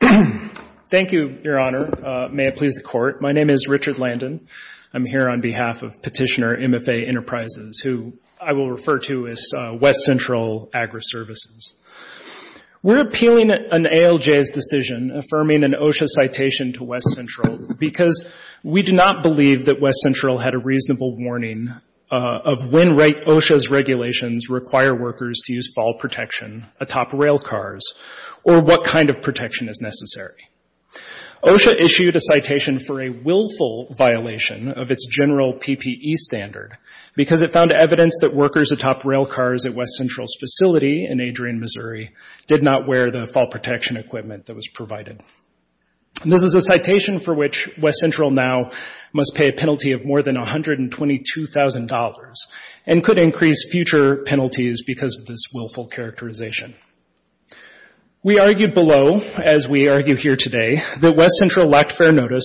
Thank you, Your Honor. May it please the Court. My name is Richard Landon. I'm here on behalf of Petitioner MFA Enterprises, who I will refer to as West Central Agri Services. We're appealing an ALJ's decision affirming an OSHA citation to West Central because we do not believe that West Central had a reasonable warning of when OSHA's regulations require workers to use fall protection atop rail cars or what kind of protection is necessary. OSHA issued a citation for a willful violation of its general PPE standard because it found evidence that workers atop rail cars at West Central's facility in Adrian, Missouri did not wear the fall protection equipment that was provided. This is a citation for which West Central now must pay a penalty of more than $122,000 and could increase future penalties because of this willful characterization. We argue below, as we argue here today, that West Central lacked fair notice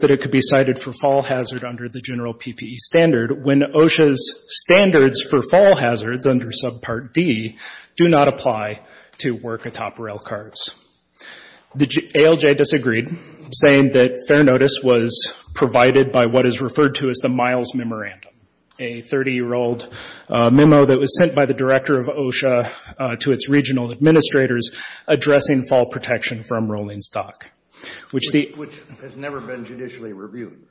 that it could be cited for fall hazard under the general PPE standard when OSHA's standards for fall hazards under Subpart D do not apply to work atop rail cars. The ALJ disagreed, saying that fair notice was provided by what is referred to as the Miles Memorandum, a 30-year-old memo that was sent by the Director of OSHA to its regional administrators addressing fall protection from rolling stock, which the— Judge Pritzker Which has never been judicially reviewed. Mr. McKeon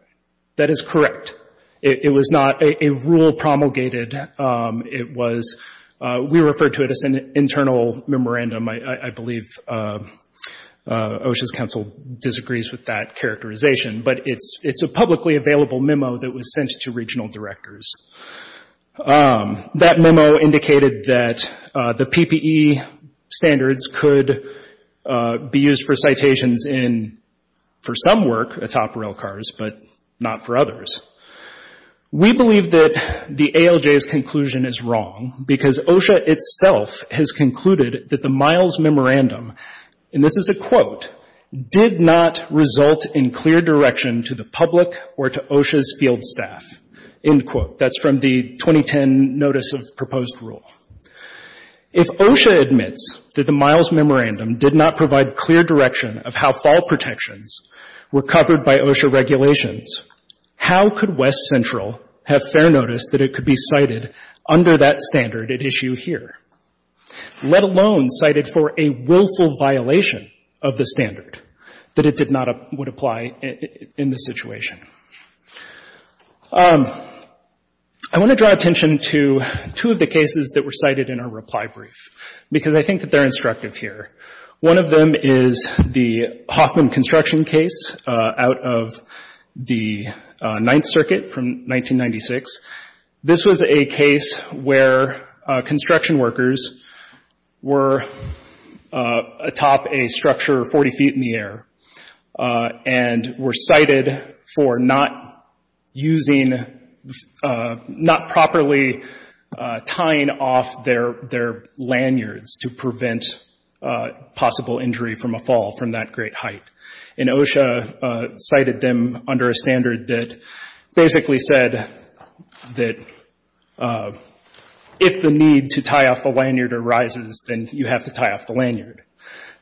That is correct. It was not a rule promulgated. It was—we refer to it as an internal memorandum. I believe OSHA's counsel disagrees with that characterization, but it's a publicly available memo that was sent to regional directors. That memo indicated that the PPE standards could be used for citations in—for some work atop rail cars, but not for others. We believe that the ALJ's conclusion is wrong because OSHA itself has concluded that the Miles Memorandum, and this is a quote, did not result in clear direction to the public or to OSHA's field staff, end quote. That's from the 2010 Notice of Proposed Rule. If OSHA admits that the Miles Memorandum did not provide clear direction of how fall protections were covered by OSHA regulations, how could West Central have fair notice that it could be cited under that standard at issue here, let alone cited for a willful violation of the standard that it did not—would apply in this situation? I want to draw attention to two of the cases that were cited in our reply brief because I think that they're instructive here. One of them is the Hoffman construction case out of the Ninth Circuit from 1996. This was a case where construction workers were atop a structure 40 feet in the air and were cited for not using—not properly tying off their lanyards to prevent possible injury from a fall from that great height. And OSHA cited them under a standard that basically said that if the need to tie off the lanyard arises, then you have to tie off the lanyard.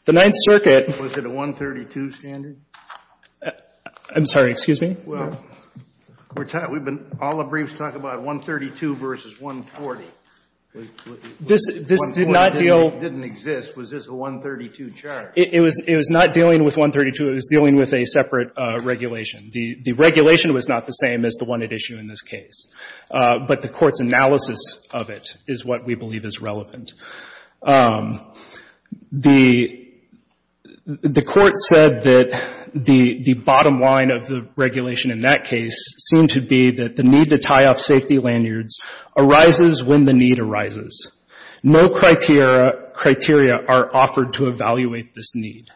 The Ninth Circuit— Was it a 132 standard? I'm sorry. Excuse me? Well, we're talking—we've been—all the briefs talk about 132 versus 140. This did not deal— It didn't exist. Was this a 132 charge? It was not dealing with 132. It was dealing with a separate regulation. The regulation was not the same as the one at issue in this case, but the Court's analysis of it is what we believe is relevant. The Court said that the bottom line of the regulation in that case seemed to be that the need to tie off safety lanyards arises when the need arises. No criteria are offered to evaluate this need.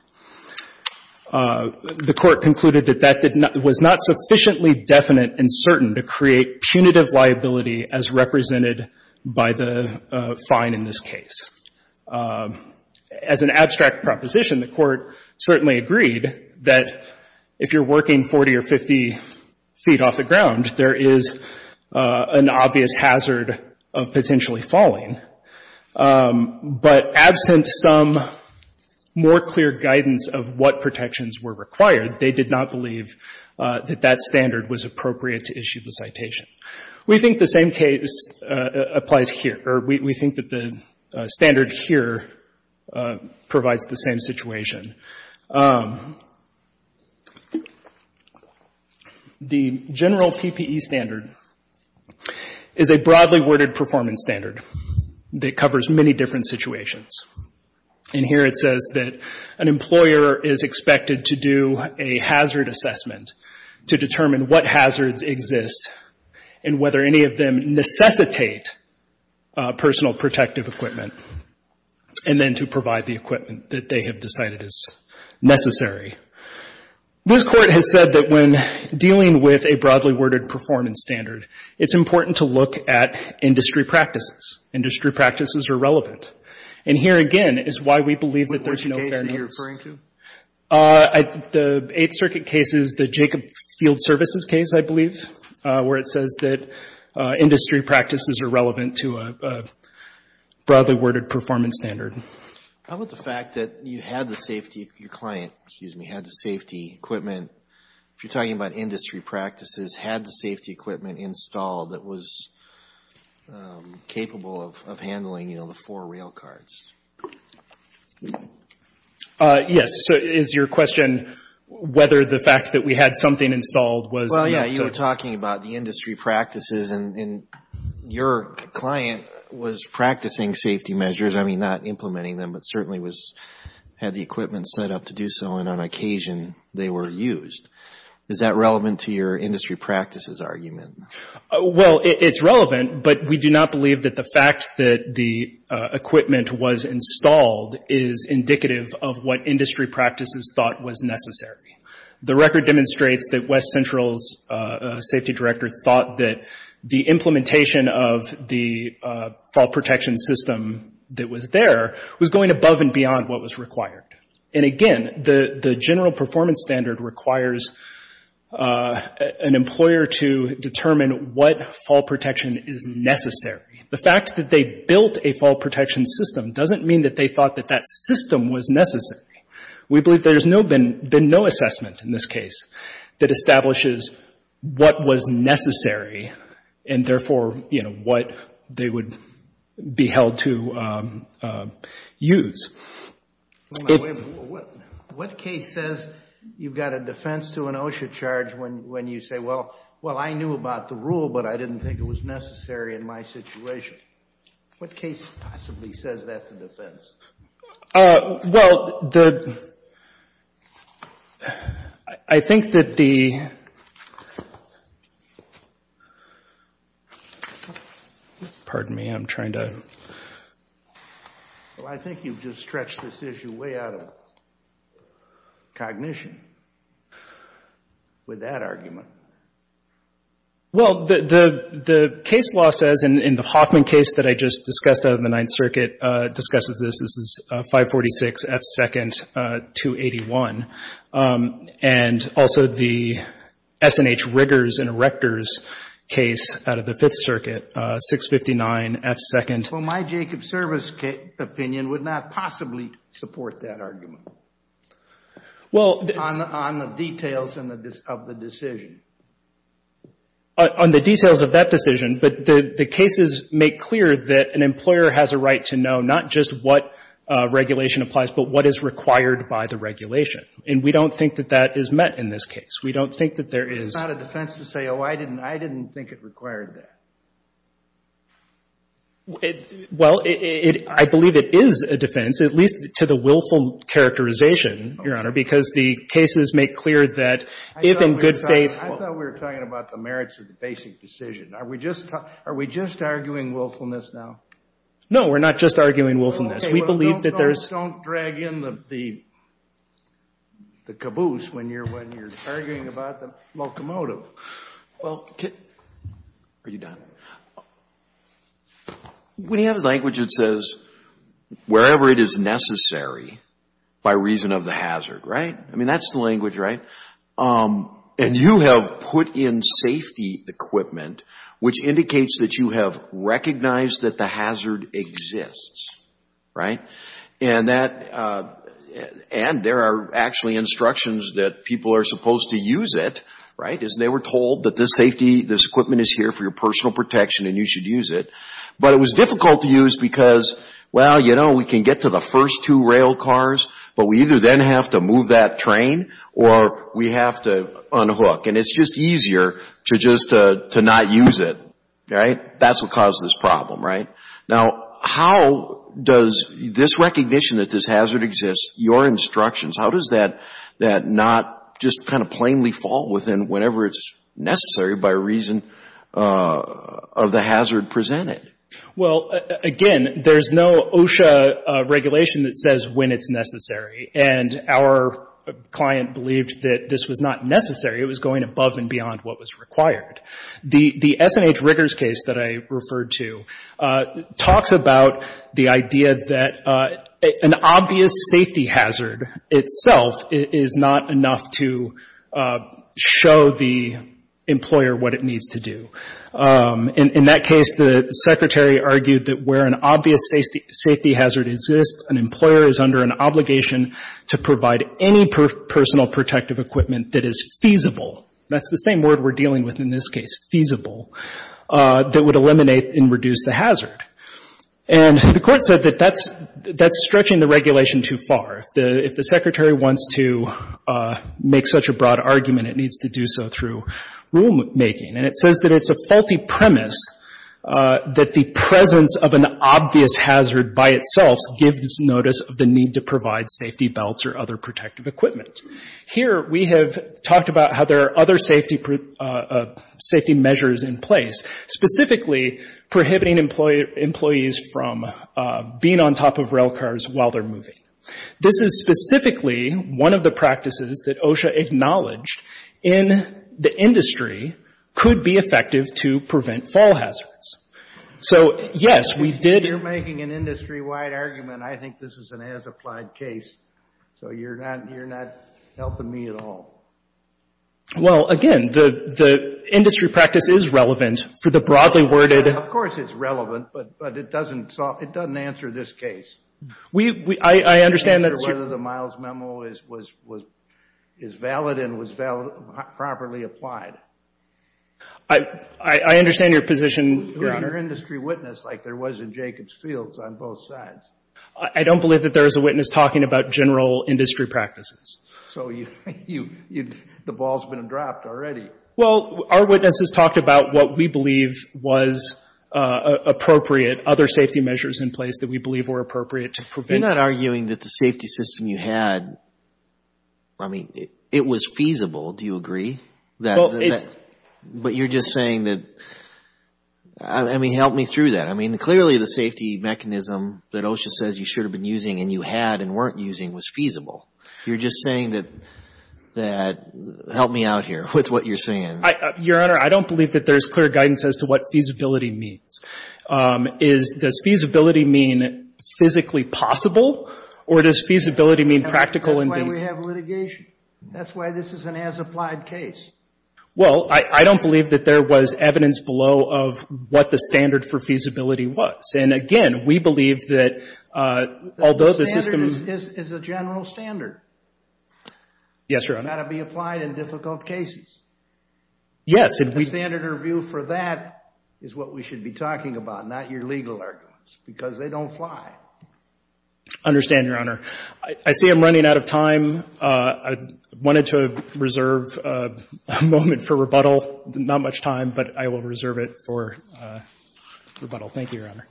The Court concluded that that did not—was not sufficiently definite and certain to create punitive liability as represented by the fine in this case. As an abstract proposition, the Court certainly agreed that if you're potentially falling, but absent some more clear guidance of what protections were required, they did not believe that that standard was appropriate to issue the citation. We think the same case applies here, or we think that the standard here provides the same situation. The general PPE standard is a broadly worded performance standard that covers many different situations. And here it says that an employer is expected to do a hazard assessment to determine what hazards exist and whether any of them necessitate personal protective equipment, and then to provide the equipment that they have decided is necessary. This Court has said that when dealing with a broadly worded performance standard, it's important to look at industry practices. Industry practices are relevant. And here again is why we believe that there's no fairness. The Eighth Circuit case is the Jacob Field Services case, I believe, where it says that industry practices are relevant to a broadly worded performance standard. How about the fact that you had the safety, your client, excuse me, had the safety equipment, if you're talking about industry practices, had the safety equipment installed that was capable of handling, you know, the four rail cards? Yes. So is your question whether the fact that we had something installed was enough to... And your client was practicing safety measures, I mean, not implementing them, but certainly had the equipment set up to do so, and on occasion they were used. Is that relevant to your industry practices argument? Well, it's relevant, but we do not believe that the fact that the equipment was installed is indicative of what industry practices thought was necessary. The record demonstrates that the implementation of the fall protection system that was there was going above and beyond what was required. And again, the general performance standard requires an employer to determine what fall protection is necessary. The fact that they built a fall protection system doesn't mean that they thought that that system was necessary. We believe there's been no assessment in this case that establishes what was necessary in this case, and therefore, you know, what they would be held to use. What case says you've got a defense to an OSHA charge when you say, well, I knew about the rule, but I didn't think it was necessary in my situation? What case possibly says that's a defense? Well, I think that the pardon me, I'm trying to Well, I think you've just stretched this issue way out of cognition with that argument. Well, the case law says in the Hoffman case that I just discussed out of the Ninth Circuit discusses this, this is 546 F. 2nd. 281. And also the S&H Riggers and Erectors case out of the Fifth Circuit, 659 F. 2nd. Well, my Jacob Service opinion would not possibly support that argument. On the details of the decision. On the details of that decision, but the cases make clear that an employer has a right to know not just what regulation applies, but what is required by the regulation. And we don't think that that is met in this case. We don't think that there is It's not a defense to say, oh, I didn't think it required that. Well, I believe it is a defense, at least to the willful characterization, Your Honor, because the cases make clear that if in good faith I thought we were talking about the merits of the basic decision. Are we just arguing willfulness now? No, we're not just arguing willfulness. We believe that there is Okay, well, don't drag in the caboose when you're arguing about the locomotive. Well, are you done? When you have a language that says, wherever it is necessary by reason of the hazard, right? I mean, that's the language, right? And you have put in safety equipment, which indicates that you have recognized that the hazard exists, right? And there are actually instructions that people are supposed to use it, right? Because they were told that this safety, this equipment is here for your personal protection and you should use it. But it was difficult to use because, well, you know, we can get to the first two rail cars, but we either then have to move that train or we have to unhook. And it's just easier to just not use it, right? That's what caused this problem, right? Now, how does this recognition that this hazard exists, your instructions, how does that not just kind of plainly fall within whenever it's necessary by reason of the hazard presented? Well, again, there's no OSHA regulation that says when it's necessary. And our client believed that this was not necessary. It was going above and beyond what was required. The S&H Riggers case that I referred to talks about the idea that an obvious safety hazard itself is not enough to show the employer what it needs to do. In that case, the Secretary argued that where an obvious safety hazard exists, an employer is under an obligation to provide any personal protective equipment that is feasible. That's the same word we're dealing with in this case, feasible, that would eliminate and reduce the hazard. And the Court said that that's stretching the regulation too far. If the Secretary wants to make such a broad argument, it needs to do so through rulemaking. And it says that it's a faulty premise that the presence of an obvious hazard by itself gives notice of the need to provide safety belts or other protective equipment. Here, we have talked about how there are other safety measures in place, specifically prohibiting employees from being on top of rail cars while they're moving. This is specifically one of the practices that OSHA acknowledged in the industry could be effective to prevent fall hazards. So, yes, we did— I'm not making an industry-wide argument. I think this is an as-applied case, so you're not helping me at all. Well, again, the industry practice is relevant for the broadly worded— Of course it's relevant, but it doesn't answer this case. I understand that— Whether the Miles memo is valid and was properly applied. I understand your position, Your Honor. Who's your industry witness like there was in Jacob's Fields on both sides? I don't believe that there is a witness talking about general industry practices. So, the ball's been dropped already. Well, our witnesses talked about what we believe was appropriate, other safety measures in place that we believe were appropriate to prevent— You're not arguing that the safety system you had, I mean, it was feasible, do you agree? But you're just saying that, I mean, help me through that. I mean, clearly the safety mechanism that OSHA says you should have been using and you had and weren't using was feasible. You're just saying that, help me out here with what you're saying. Your Honor, I don't believe that there's clear guidance as to what feasibility means. Does feasibility mean physically possible, or does feasibility mean practical— That's why we have litigation. That's why this is an as-applied case. Well, I don't believe that there was evidence below of what the standard for feasibility was. And again, we believe that although the system— The standard is a general standard. Yes, Your Honor. It's got to be applied in difficult cases. Yes, and we— The standard review for that is what we should be talking about, not your legal arguments, because they don't fly. I understand, Your Honor. I see I'm running out of time. I wanted to reserve a moment for rebuttal. Not much time, but I will reserve it for rebuttal. Thank you, Your Honor.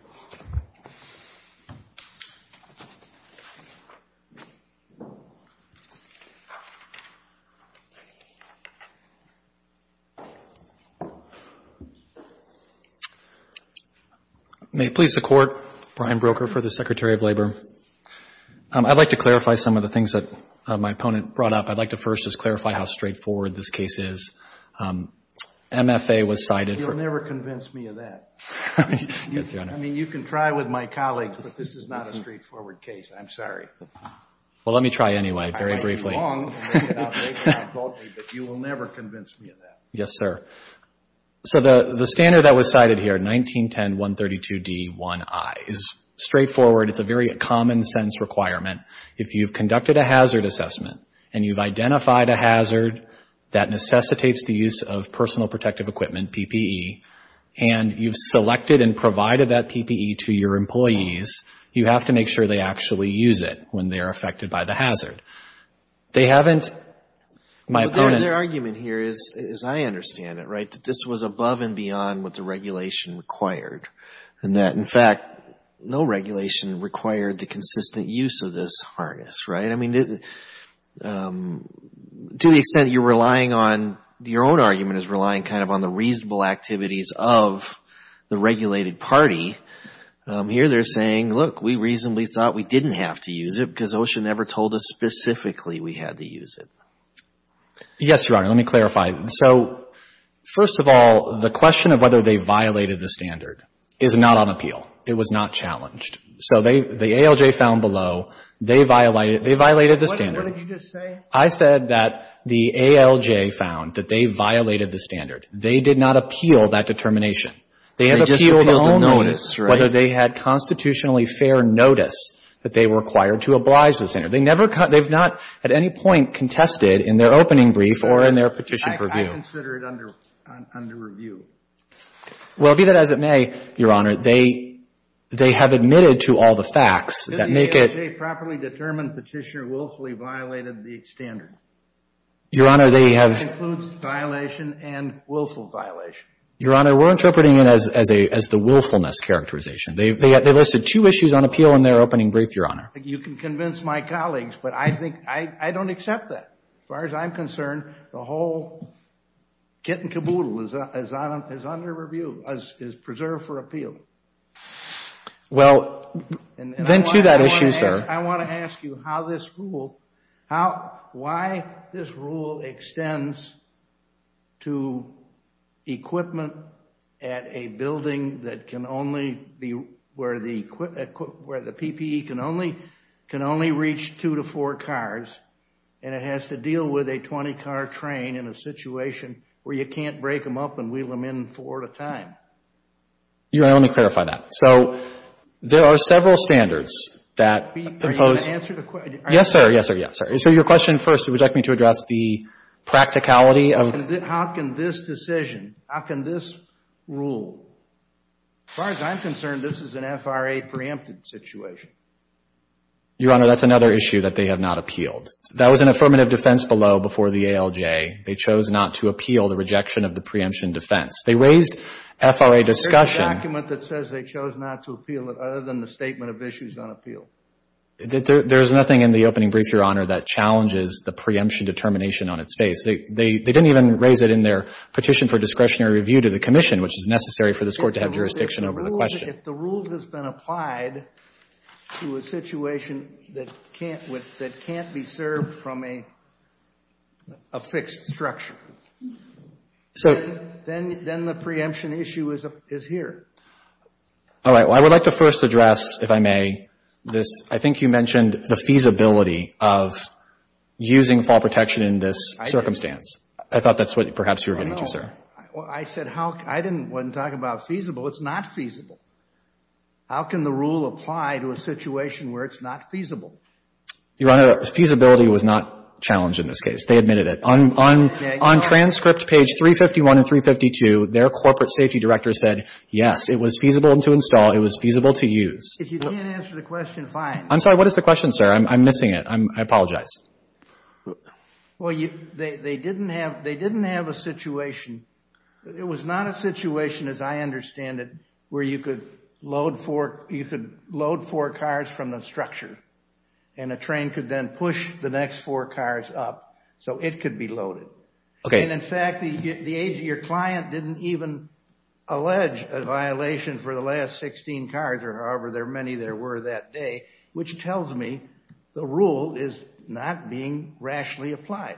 May it please the Court, Brian Broker for the Secretary of Labor. I'd like to clarify some of the things that my opponent brought up. I'd like to first just clarify how straightforward this case is. MFA was cited for— You'll never convince me of that. Yes, Your Honor. I mean, you can try with my colleagues, but this is not a straightforward case. I'm sorry. Well, let me try anyway, very briefly. I might be wrong, but you will never convince me of that. Yes, sir. So the standard that was cited here, 1910.132d.1i, is straightforward. It's a very common-sense requirement. If you've conducted a hazard assessment and you've identified a hazard that necessitates the use of personal protective equipment, PPE, and you've selected and provided that PPE to your employees, you have to make sure they actually use it when they are affected by the hazard. They haven't—my opponent— Their argument here is, as I understand it, right, that this was above and beyond what the regulation required, and that, in fact, no regulation required the consistent use of this harness, right? I mean, to the extent you're relying on— your own argument is relying kind of on the reasonable activities of the regulated party, here they're saying, look, we reasonably thought we didn't have to use it because OSHA never told us specifically we had to use it. Yes, Your Honor. Let me clarify. So, first of all, the question of whether they violated the standard is not on appeal. It was not challenged. So the ALJ found below, they violated the standard. What did you just say? I said that the ALJ found that they violated the standard. They did not appeal that determination. They have appealed only— They just repealed the notice, right? —whether they had constitutionally fair notice that they were required to oblige the standard. They never—they've not at any point contested in their opening brief or in their petition purview. I consider it under review. Well, be that as it may, Your Honor, they have admitted to all the facts that make it— The properly determined petitioner willfully violated the standard. Your Honor, they have— That concludes violation and willful violation. Your Honor, we're interpreting it as the willfulness characterization. They listed two issues on appeal in their opening brief, Your Honor. You can convince my colleagues, but I think I don't accept that. As far as I'm concerned, the whole kit and caboodle is under review, is preserved for appeal. Well, then to that issue, sir— I want to ask you how this rule— why this rule extends to equipment at a building that can only be— where the PPE can only reach two to four cars, and it has to deal with a 20-car train in a situation where you can't break them up and wheel them in four at a time. Your Honor, let me clarify that. So there are several standards that— Are you going to answer the question? Yes, sir. Yes, sir. Yes, sir. So your question first would like me to address the practicality of— How can this decision, how can this rule— as far as I'm concerned, this is an FRA preempted situation. Your Honor, that's another issue that they have not appealed. That was an affirmative defense below before the ALJ. They chose not to appeal the rejection of the preemption defense. They raised FRA discussion— It's a document that says they chose not to appeal it other than the statement of issues on appeal. There's nothing in the opening brief, Your Honor, that challenges the preemption determination on its face. They didn't even raise it in their petition for discretionary review to the commission, which is necessary for this Court to have jurisdiction over the question. If the rule has been applied to a situation that can't be served from a fixed structure, then the preemption issue is here. All right. Well, I would like to first address, if I may, this. I think you mentioned the feasibility of using fall protection in this circumstance. I thought that's what perhaps you were getting to, sir. I said how—I didn't want to talk about feasible. It's not feasible. How can the rule apply to a situation where it's not feasible? Your Honor, feasibility was not challenged in this case. They admitted it. On transcript page 351 and 352, their corporate safety director said, yes, it was feasible to install. It was feasible to use. If you can't answer the question, fine. I'm sorry. What is the question, sir? I'm missing it. I apologize. Well, they didn't have a situation. It was not a situation, as I understand it, where you could load four cars from the structure, and a train could then push the next four cars up so it could be loaded. And, in fact, your client didn't even allege a violation for the last 16 cars, or however many there were that day, which tells me the rule is not being rationally applied.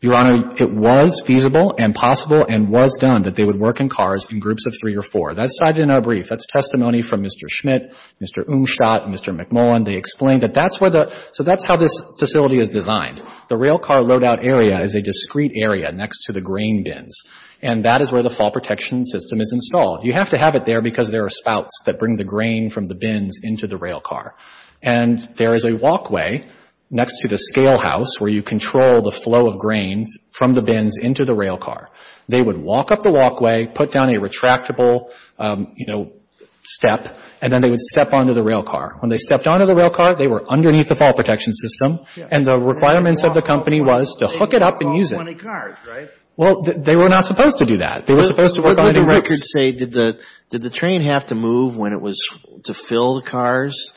Your Honor, it was feasible and possible and was done that they would work in cars in groups of three or four. That's cited in our brief. That's testimony from Mr. Schmidt, Mr. Umstadt, and Mr. McMullen. They explained that that's where the – so that's how this facility is designed. The railcar loadout area is a discrete area next to the grain bins, and that is where the fall protection system is installed. You have to have it there because there are spouts that bring the grain from the bins into the railcar. And there is a walkway next to the scale house where you control the flow of grain from the bins into the railcar. They would walk up the walkway, put down a retractable, you know, step, and then they would step onto the railcar. When they stepped onto the railcar, they were underneath the fall protection system, and the requirements of the company was to hook it up and use it. They could walk 20 cars, right? Well, they were not supposed to do that. They were supposed to work on it in groups. Would it be appropriate to say, did the train have to move when it was to fill the cars?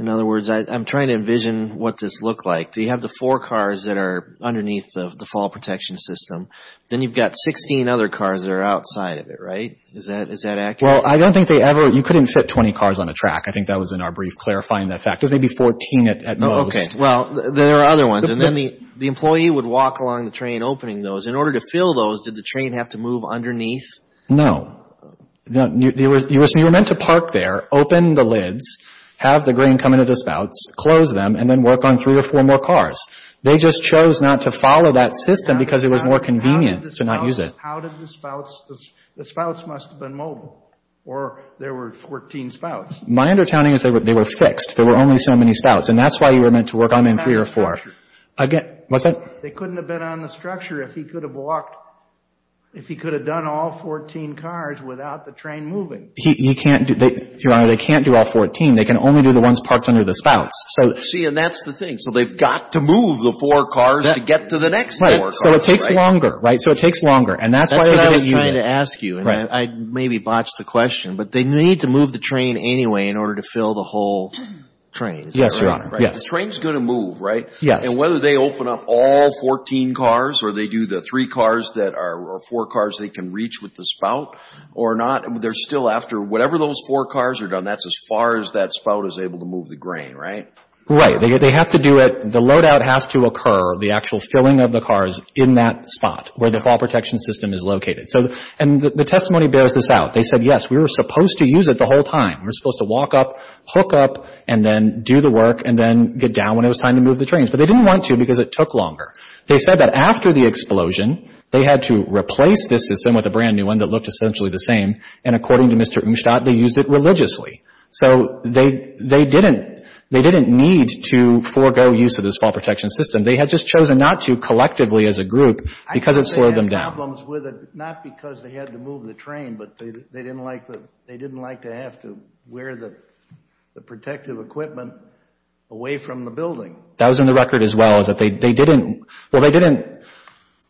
In other words, I'm trying to envision what this looked like. Do you have the four cars that are underneath the fall protection system? Then you've got 16 other cars that are outside of it, right? Is that accurate? Well, I don't think they ever – you couldn't fit 20 cars on a track. I think that was in our brief clarifying that fact. There's maybe 14 at most. Well, there are other ones. And then the employee would walk along the train opening those. In order to fill those, did the train have to move underneath? No. You were meant to park there, open the lids, have the grain come into the spouts, close them, and then work on three or four more cars. They just chose not to follow that system because it was more convenient to not use it. How did the spouts – the spouts must have been mobile, or there were 14 spouts. My undertowning is they were fixed. There were only so many spouts. And that's why you were meant to work on them in three or four. What's that? They couldn't have been on the structure if he could have walked – if he could have done all 14 cars without the train moving. He can't do – Your Honor, they can't do all 14. They can only do the ones parked under the spouts. See, and that's the thing. So they've got to move the four cars to get to the next four cars. Right. So it takes longer, right? So it takes longer. And that's why they didn't use it. That's what I was trying to ask you. Right. And I maybe botched the question, but they need to move the train anyway in order to fill the whole train. Yes, Your Honor. The train's going to move, right? Yes. And whether they open up all 14 cars or they do the three cars that are – or four cars they can reach with the spout or not, they're still after whatever those four cars are done. That's as far as that spout is able to move the grain, right? Right. They have to do it – the loadout has to occur, the actual filling of the cars in that spot where the fall protection system is located. And the testimony bears this out. They said, yes, we were supposed to use it the whole time. We were supposed to walk up, hook up, and then do the work and then get down when it was time to move the trains. But they didn't want to because it took longer. They said that after the explosion, they had to replace this system with a brand-new one that looked essentially the same, and according to Mr. Umstadt, they used it religiously. So they didn't need to forego use of this fall protection system. They had just chosen not to collectively as a group because it slowed them down. They had problems with it not because they had to move the train, but they didn't like to have to wear the protective equipment away from the building. That was in the record as well, is that they didn't – well, they didn't –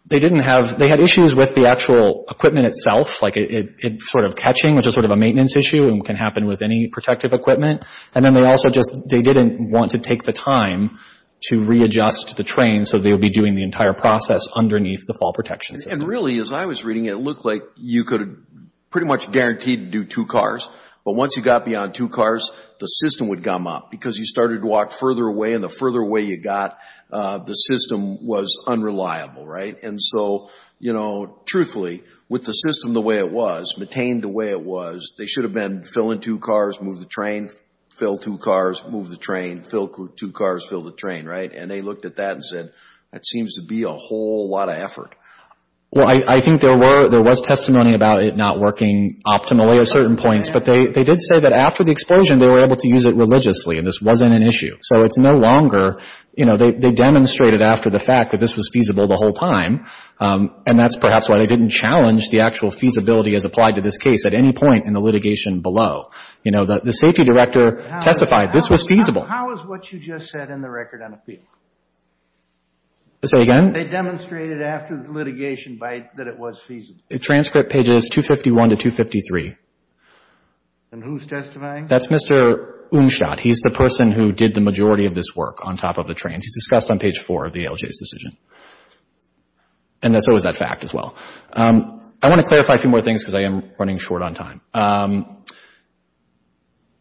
they didn't have – they had issues with the actual equipment itself, like it sort of catching, which is sort of a maintenance issue and can happen with any protective equipment. And then they also just – they didn't want to take the time to readjust the train so they would be doing the entire process underneath the fall protection system. And really, as I was reading it, it looked like you could pretty much guarantee to do two cars, but once you got beyond two cars, the system would gum up because you started to walk further away, and the further away you got, the system was unreliable, right? And so, you know, truthfully, with the system the way it was, maintained the way it was, they should have been filling two cars, move the train, fill two cars, move the train, fill two cars, fill the train, right? And they looked at that and said, that seems to be a whole lot of effort. Well, I think there were – there was testimony about it not working optimally at certain points, but they did say that after the explosion they were able to use it religiously and this wasn't an issue. So it's no longer – you know, they demonstrated after the fact that this was feasible the whole time, and that's perhaps why they didn't challenge the actual feasibility as applied to this case at any point in the litigation below. You know, the safety director testified this was feasible. So how is what you just said in the record unappealing? Say again? They demonstrated after litigation that it was feasible. Transcript pages 251 to 253. And who's testifying? That's Mr. Unschott. He's the person who did the majority of this work on top of the trains. He's discussed on page 4 of the ALJ's decision. And so is that fact as well. I want to clarify a few more things because I am running short on time.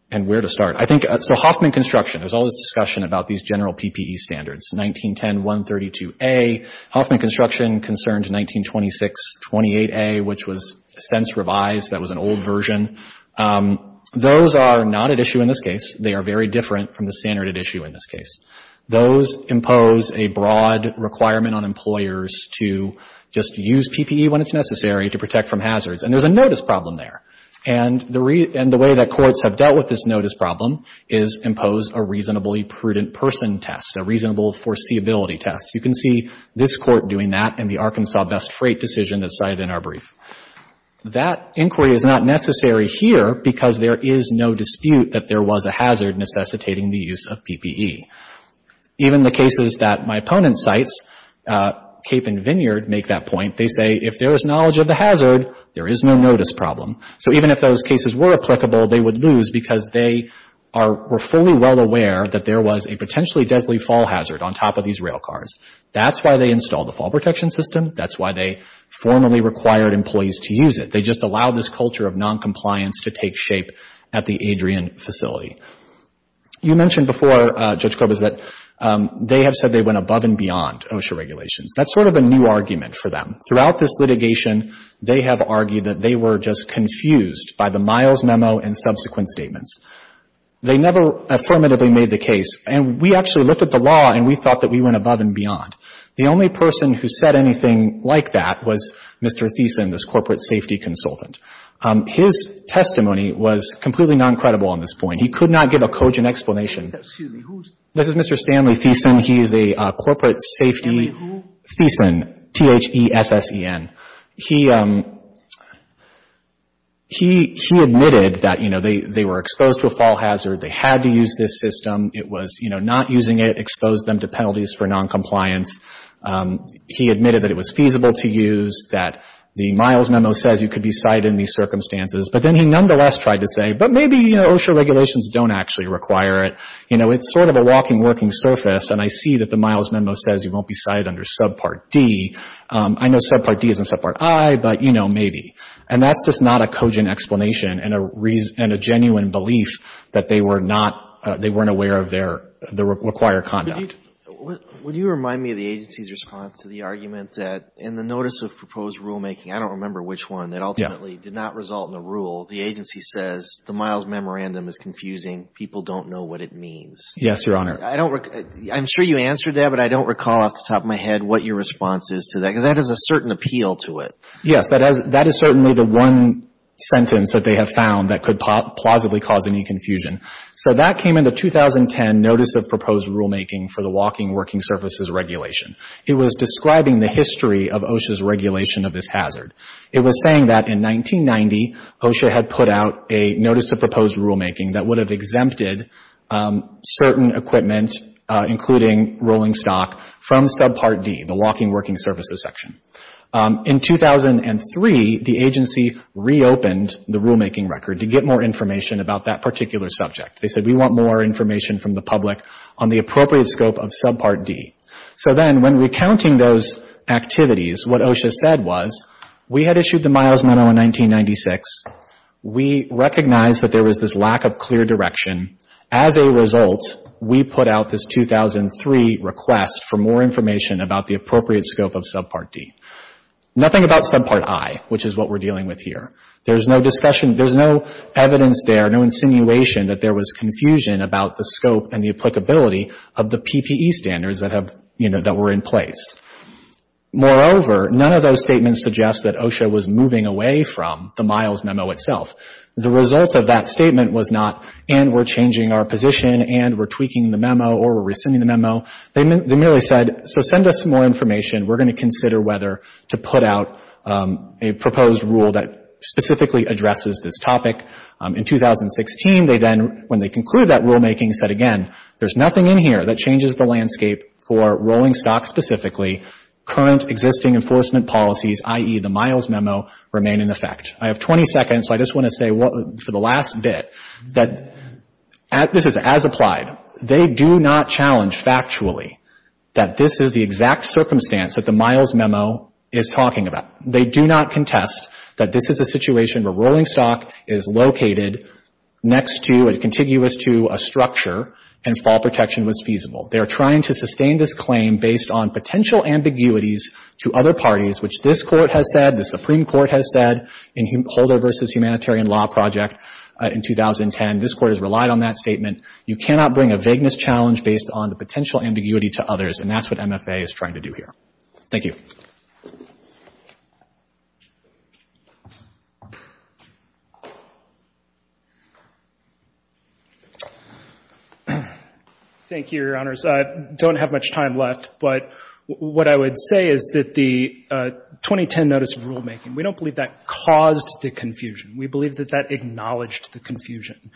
And where to start. I think – so Hoffman Construction. There's all this discussion about these general PPE standards, 1910-132A. Hoffman Construction concerned 1926-28A, which was since revised. That was an old version. Those are not at issue in this case. They are very different from the standard at issue in this case. Those impose a broad requirement on employers to just use PPE when it's necessary to protect from hazards. And there's a notice problem there. And the way that courts have dealt with this notice problem is impose a reasonably prudent person test, a reasonable foreseeability test. You can see this court doing that in the Arkansas Best Freight decision that's cited in our brief. That inquiry is not necessary here because there is no dispute that there was a hazard necessitating the use of PPE. Even the cases that my opponent cites, Cape and Vineyard, make that point. They say if there is knowledge of the hazard, there is no notice problem. So even if those cases were applicable, they would lose because they are – were fully well aware that there was a potentially deadly fall hazard on top of these rail cars. That's why they installed the fall protection system. That's why they formally required employees to use it. They just allowed this culture of noncompliance to take shape at the Adrian facility. You mentioned before, Judge Corbis, that they have said they went above and beyond OSHA regulations. That's sort of a new argument for them. Throughout this litigation, they have argued that they were just confused by the Miles memo and subsequent statements. They never affirmatively made the case. And we actually looked at the law and we thought that we went above and beyond. The only person who said anything like that was Mr. Thiessen, this corporate safety consultant. His testimony was completely noncredible on this point. He could not give a cogent explanation. This is Mr. Stanley Thiessen. He is a corporate safety – Thiessen, T-H-E-S-S-E-N. He admitted that, you know, they were exposed to a fall hazard. They had to use this system. It was, you know, not using it exposed them to penalties for noncompliance. He admitted that it was feasible to use, that the Miles memo says you could be cited in these circumstances. But then he nonetheless tried to say, but maybe, you know, OSHA regulations don't actually require it. You know, it's sort of a walking, working surface. And I see that the Miles memo says you won't be cited under subpart D. I know subpart D isn't subpart I, but, you know, maybe. And that's just not a cogent explanation and a reason – and a genuine belief that they were not – they weren't aware of their – the required conduct. Would you remind me of the agency's response to the argument that in the notice of proposed rulemaking, I don't remember which one, that ultimately did not result in a rule. The agency says the Miles memorandum is confusing. People don't know what it means. Yes, Your Honor. I don't – I'm sure you answered that, but I don't recall off the top of my head what your response is to that. Because that has a certain appeal to it. Yes. That is certainly the one sentence that they have found that could plausibly cause any confusion. So that came in the 2010 notice of proposed rulemaking for the walking, working surfaces regulation. It was describing the history of OSHA's regulation of this hazard. It was saying that in 1990, OSHA had put out a notice of proposed rulemaking that would have exempted certain equipment, including rolling stock, from subpart D, the walking, working surfaces section. In 2003, the agency reopened the rulemaking record to get more information about that particular subject. They said, we want more information from the public on the appropriate scope of subpart D. So then, when recounting those activities, what OSHA said was, we had issued the Miles memo in 1996. We recognized that there was this lack of clear direction. As a result, we put out this 2003 request for more information about the appropriate scope of subpart D. Nothing about subpart I, which is what we're dealing with here. There's no discussion – there's no evidence there, no insinuation that there was confusion about the scope and the applicability of the PPE standards that have, you know, that were in place. Moreover, none of those statements suggest that OSHA was moving away from the Miles memo itself. The result of that statement was not, and we're changing our position, and we're tweaking the memo, or we're rescinding the memo. They merely said, so send us some more information. We're going to consider whether to put out a proposed rule that specifically addresses this topic. In 2016, they then, when they concluded that rulemaking, said again, there's nothing in here that changes the landscape for rolling stock specifically. Current existing enforcement policies, i.e., the Miles memo, remain in effect. I have 20 seconds, so I just want to say for the last bit that this is as applied. They do not challenge factually that this is the exact circumstance that the Miles memo is talking about. They do not contest that this is a situation where rolling stock is located next to and contiguous to a structure, and fall protection was feasible. They are trying to sustain this claim based on potential ambiguities to other parties, which this Court has said, the Supreme Court has said, in Holder v. Humanitarian Law Project in 2010. This Court has relied on that statement. You cannot bring a vagueness challenge based on the potential ambiguity to others, and that's what MFA is trying to do here. Thank you. Thank you, Your Honors. I don't have much time left, but what I would say is that the 2010 notice of rulemaking, we don't believe that caused the confusion. We believe that that acknowledged the confusion.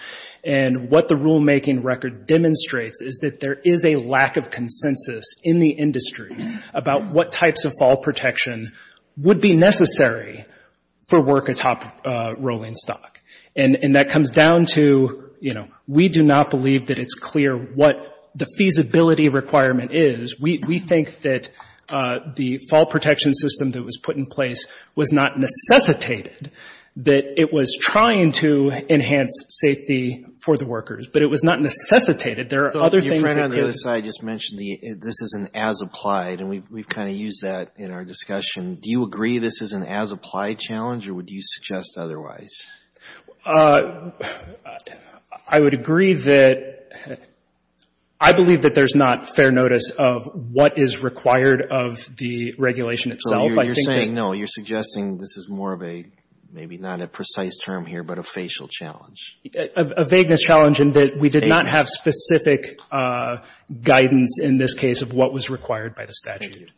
And what the rulemaking record demonstrates is that there is a lack of consensus in the industry about what types of fall protection would be necessary for work atop rolling stock. And that comes down to, you know, we do not believe that it's clear what the feasibility requirement is. We think that the fall protection system that was put in place was not necessitated, that it was trying to enhance safety for the workers. But it was not necessitated. There are other things that could. You ran on the other side, just mentioned this is an as-applied, and we've kind of used that in our discussion. Do you agree this is an as-applied challenge, or would you suggest otherwise? I would agree that I believe that there's not fair notice of what is required of the regulation itself. You're saying, no, you're suggesting this is more of a, maybe not a precise term here, but a facial challenge. A vagueness challenge in that we did not have specific guidance in this case of what was required by the statute.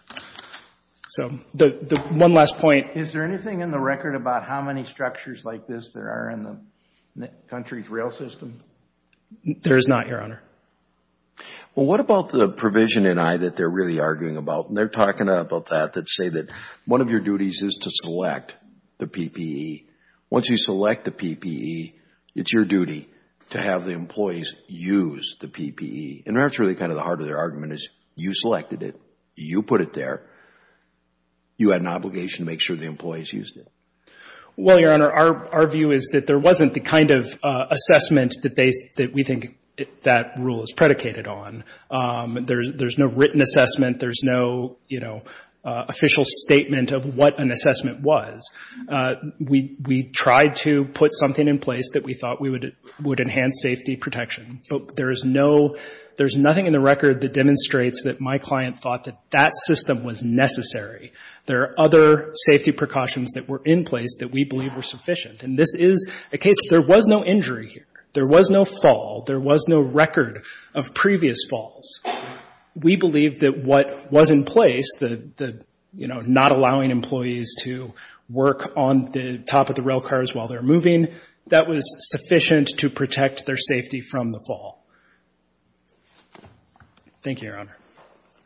So one last point. Is there anything in the record about how many structures like this there are in the country's rail system? There is not, Your Honor. Well, what about the provision in I that they're really arguing about? And they're talking about that, that say that one of your duties is to select the PPE. Once you select the PPE, it's your duty to have the employees use the PPE. And that's really kind of the heart of their argument, is you selected it. You put it there. You had an obligation to make sure the employees used it. Well, Your Honor, our view is that there wasn't the kind of assessment that we think that rule is predicated on. There's no written assessment. There's no, you know, official statement of what an assessment was. We tried to put something in place that we thought would enhance safety protection. There's nothing in the record that demonstrates that my client thought that that system was necessary. There are other safety precautions that were in place that we believe were sufficient. And this is a case, there was no injury here. There was no fall. There was no record of previous falls. We believe that what was in place, the, you know, not allowing employees to work on the top of the rail cars while they're moving, that was sufficient to protect their safety from the fall. Thank you, Your Honor.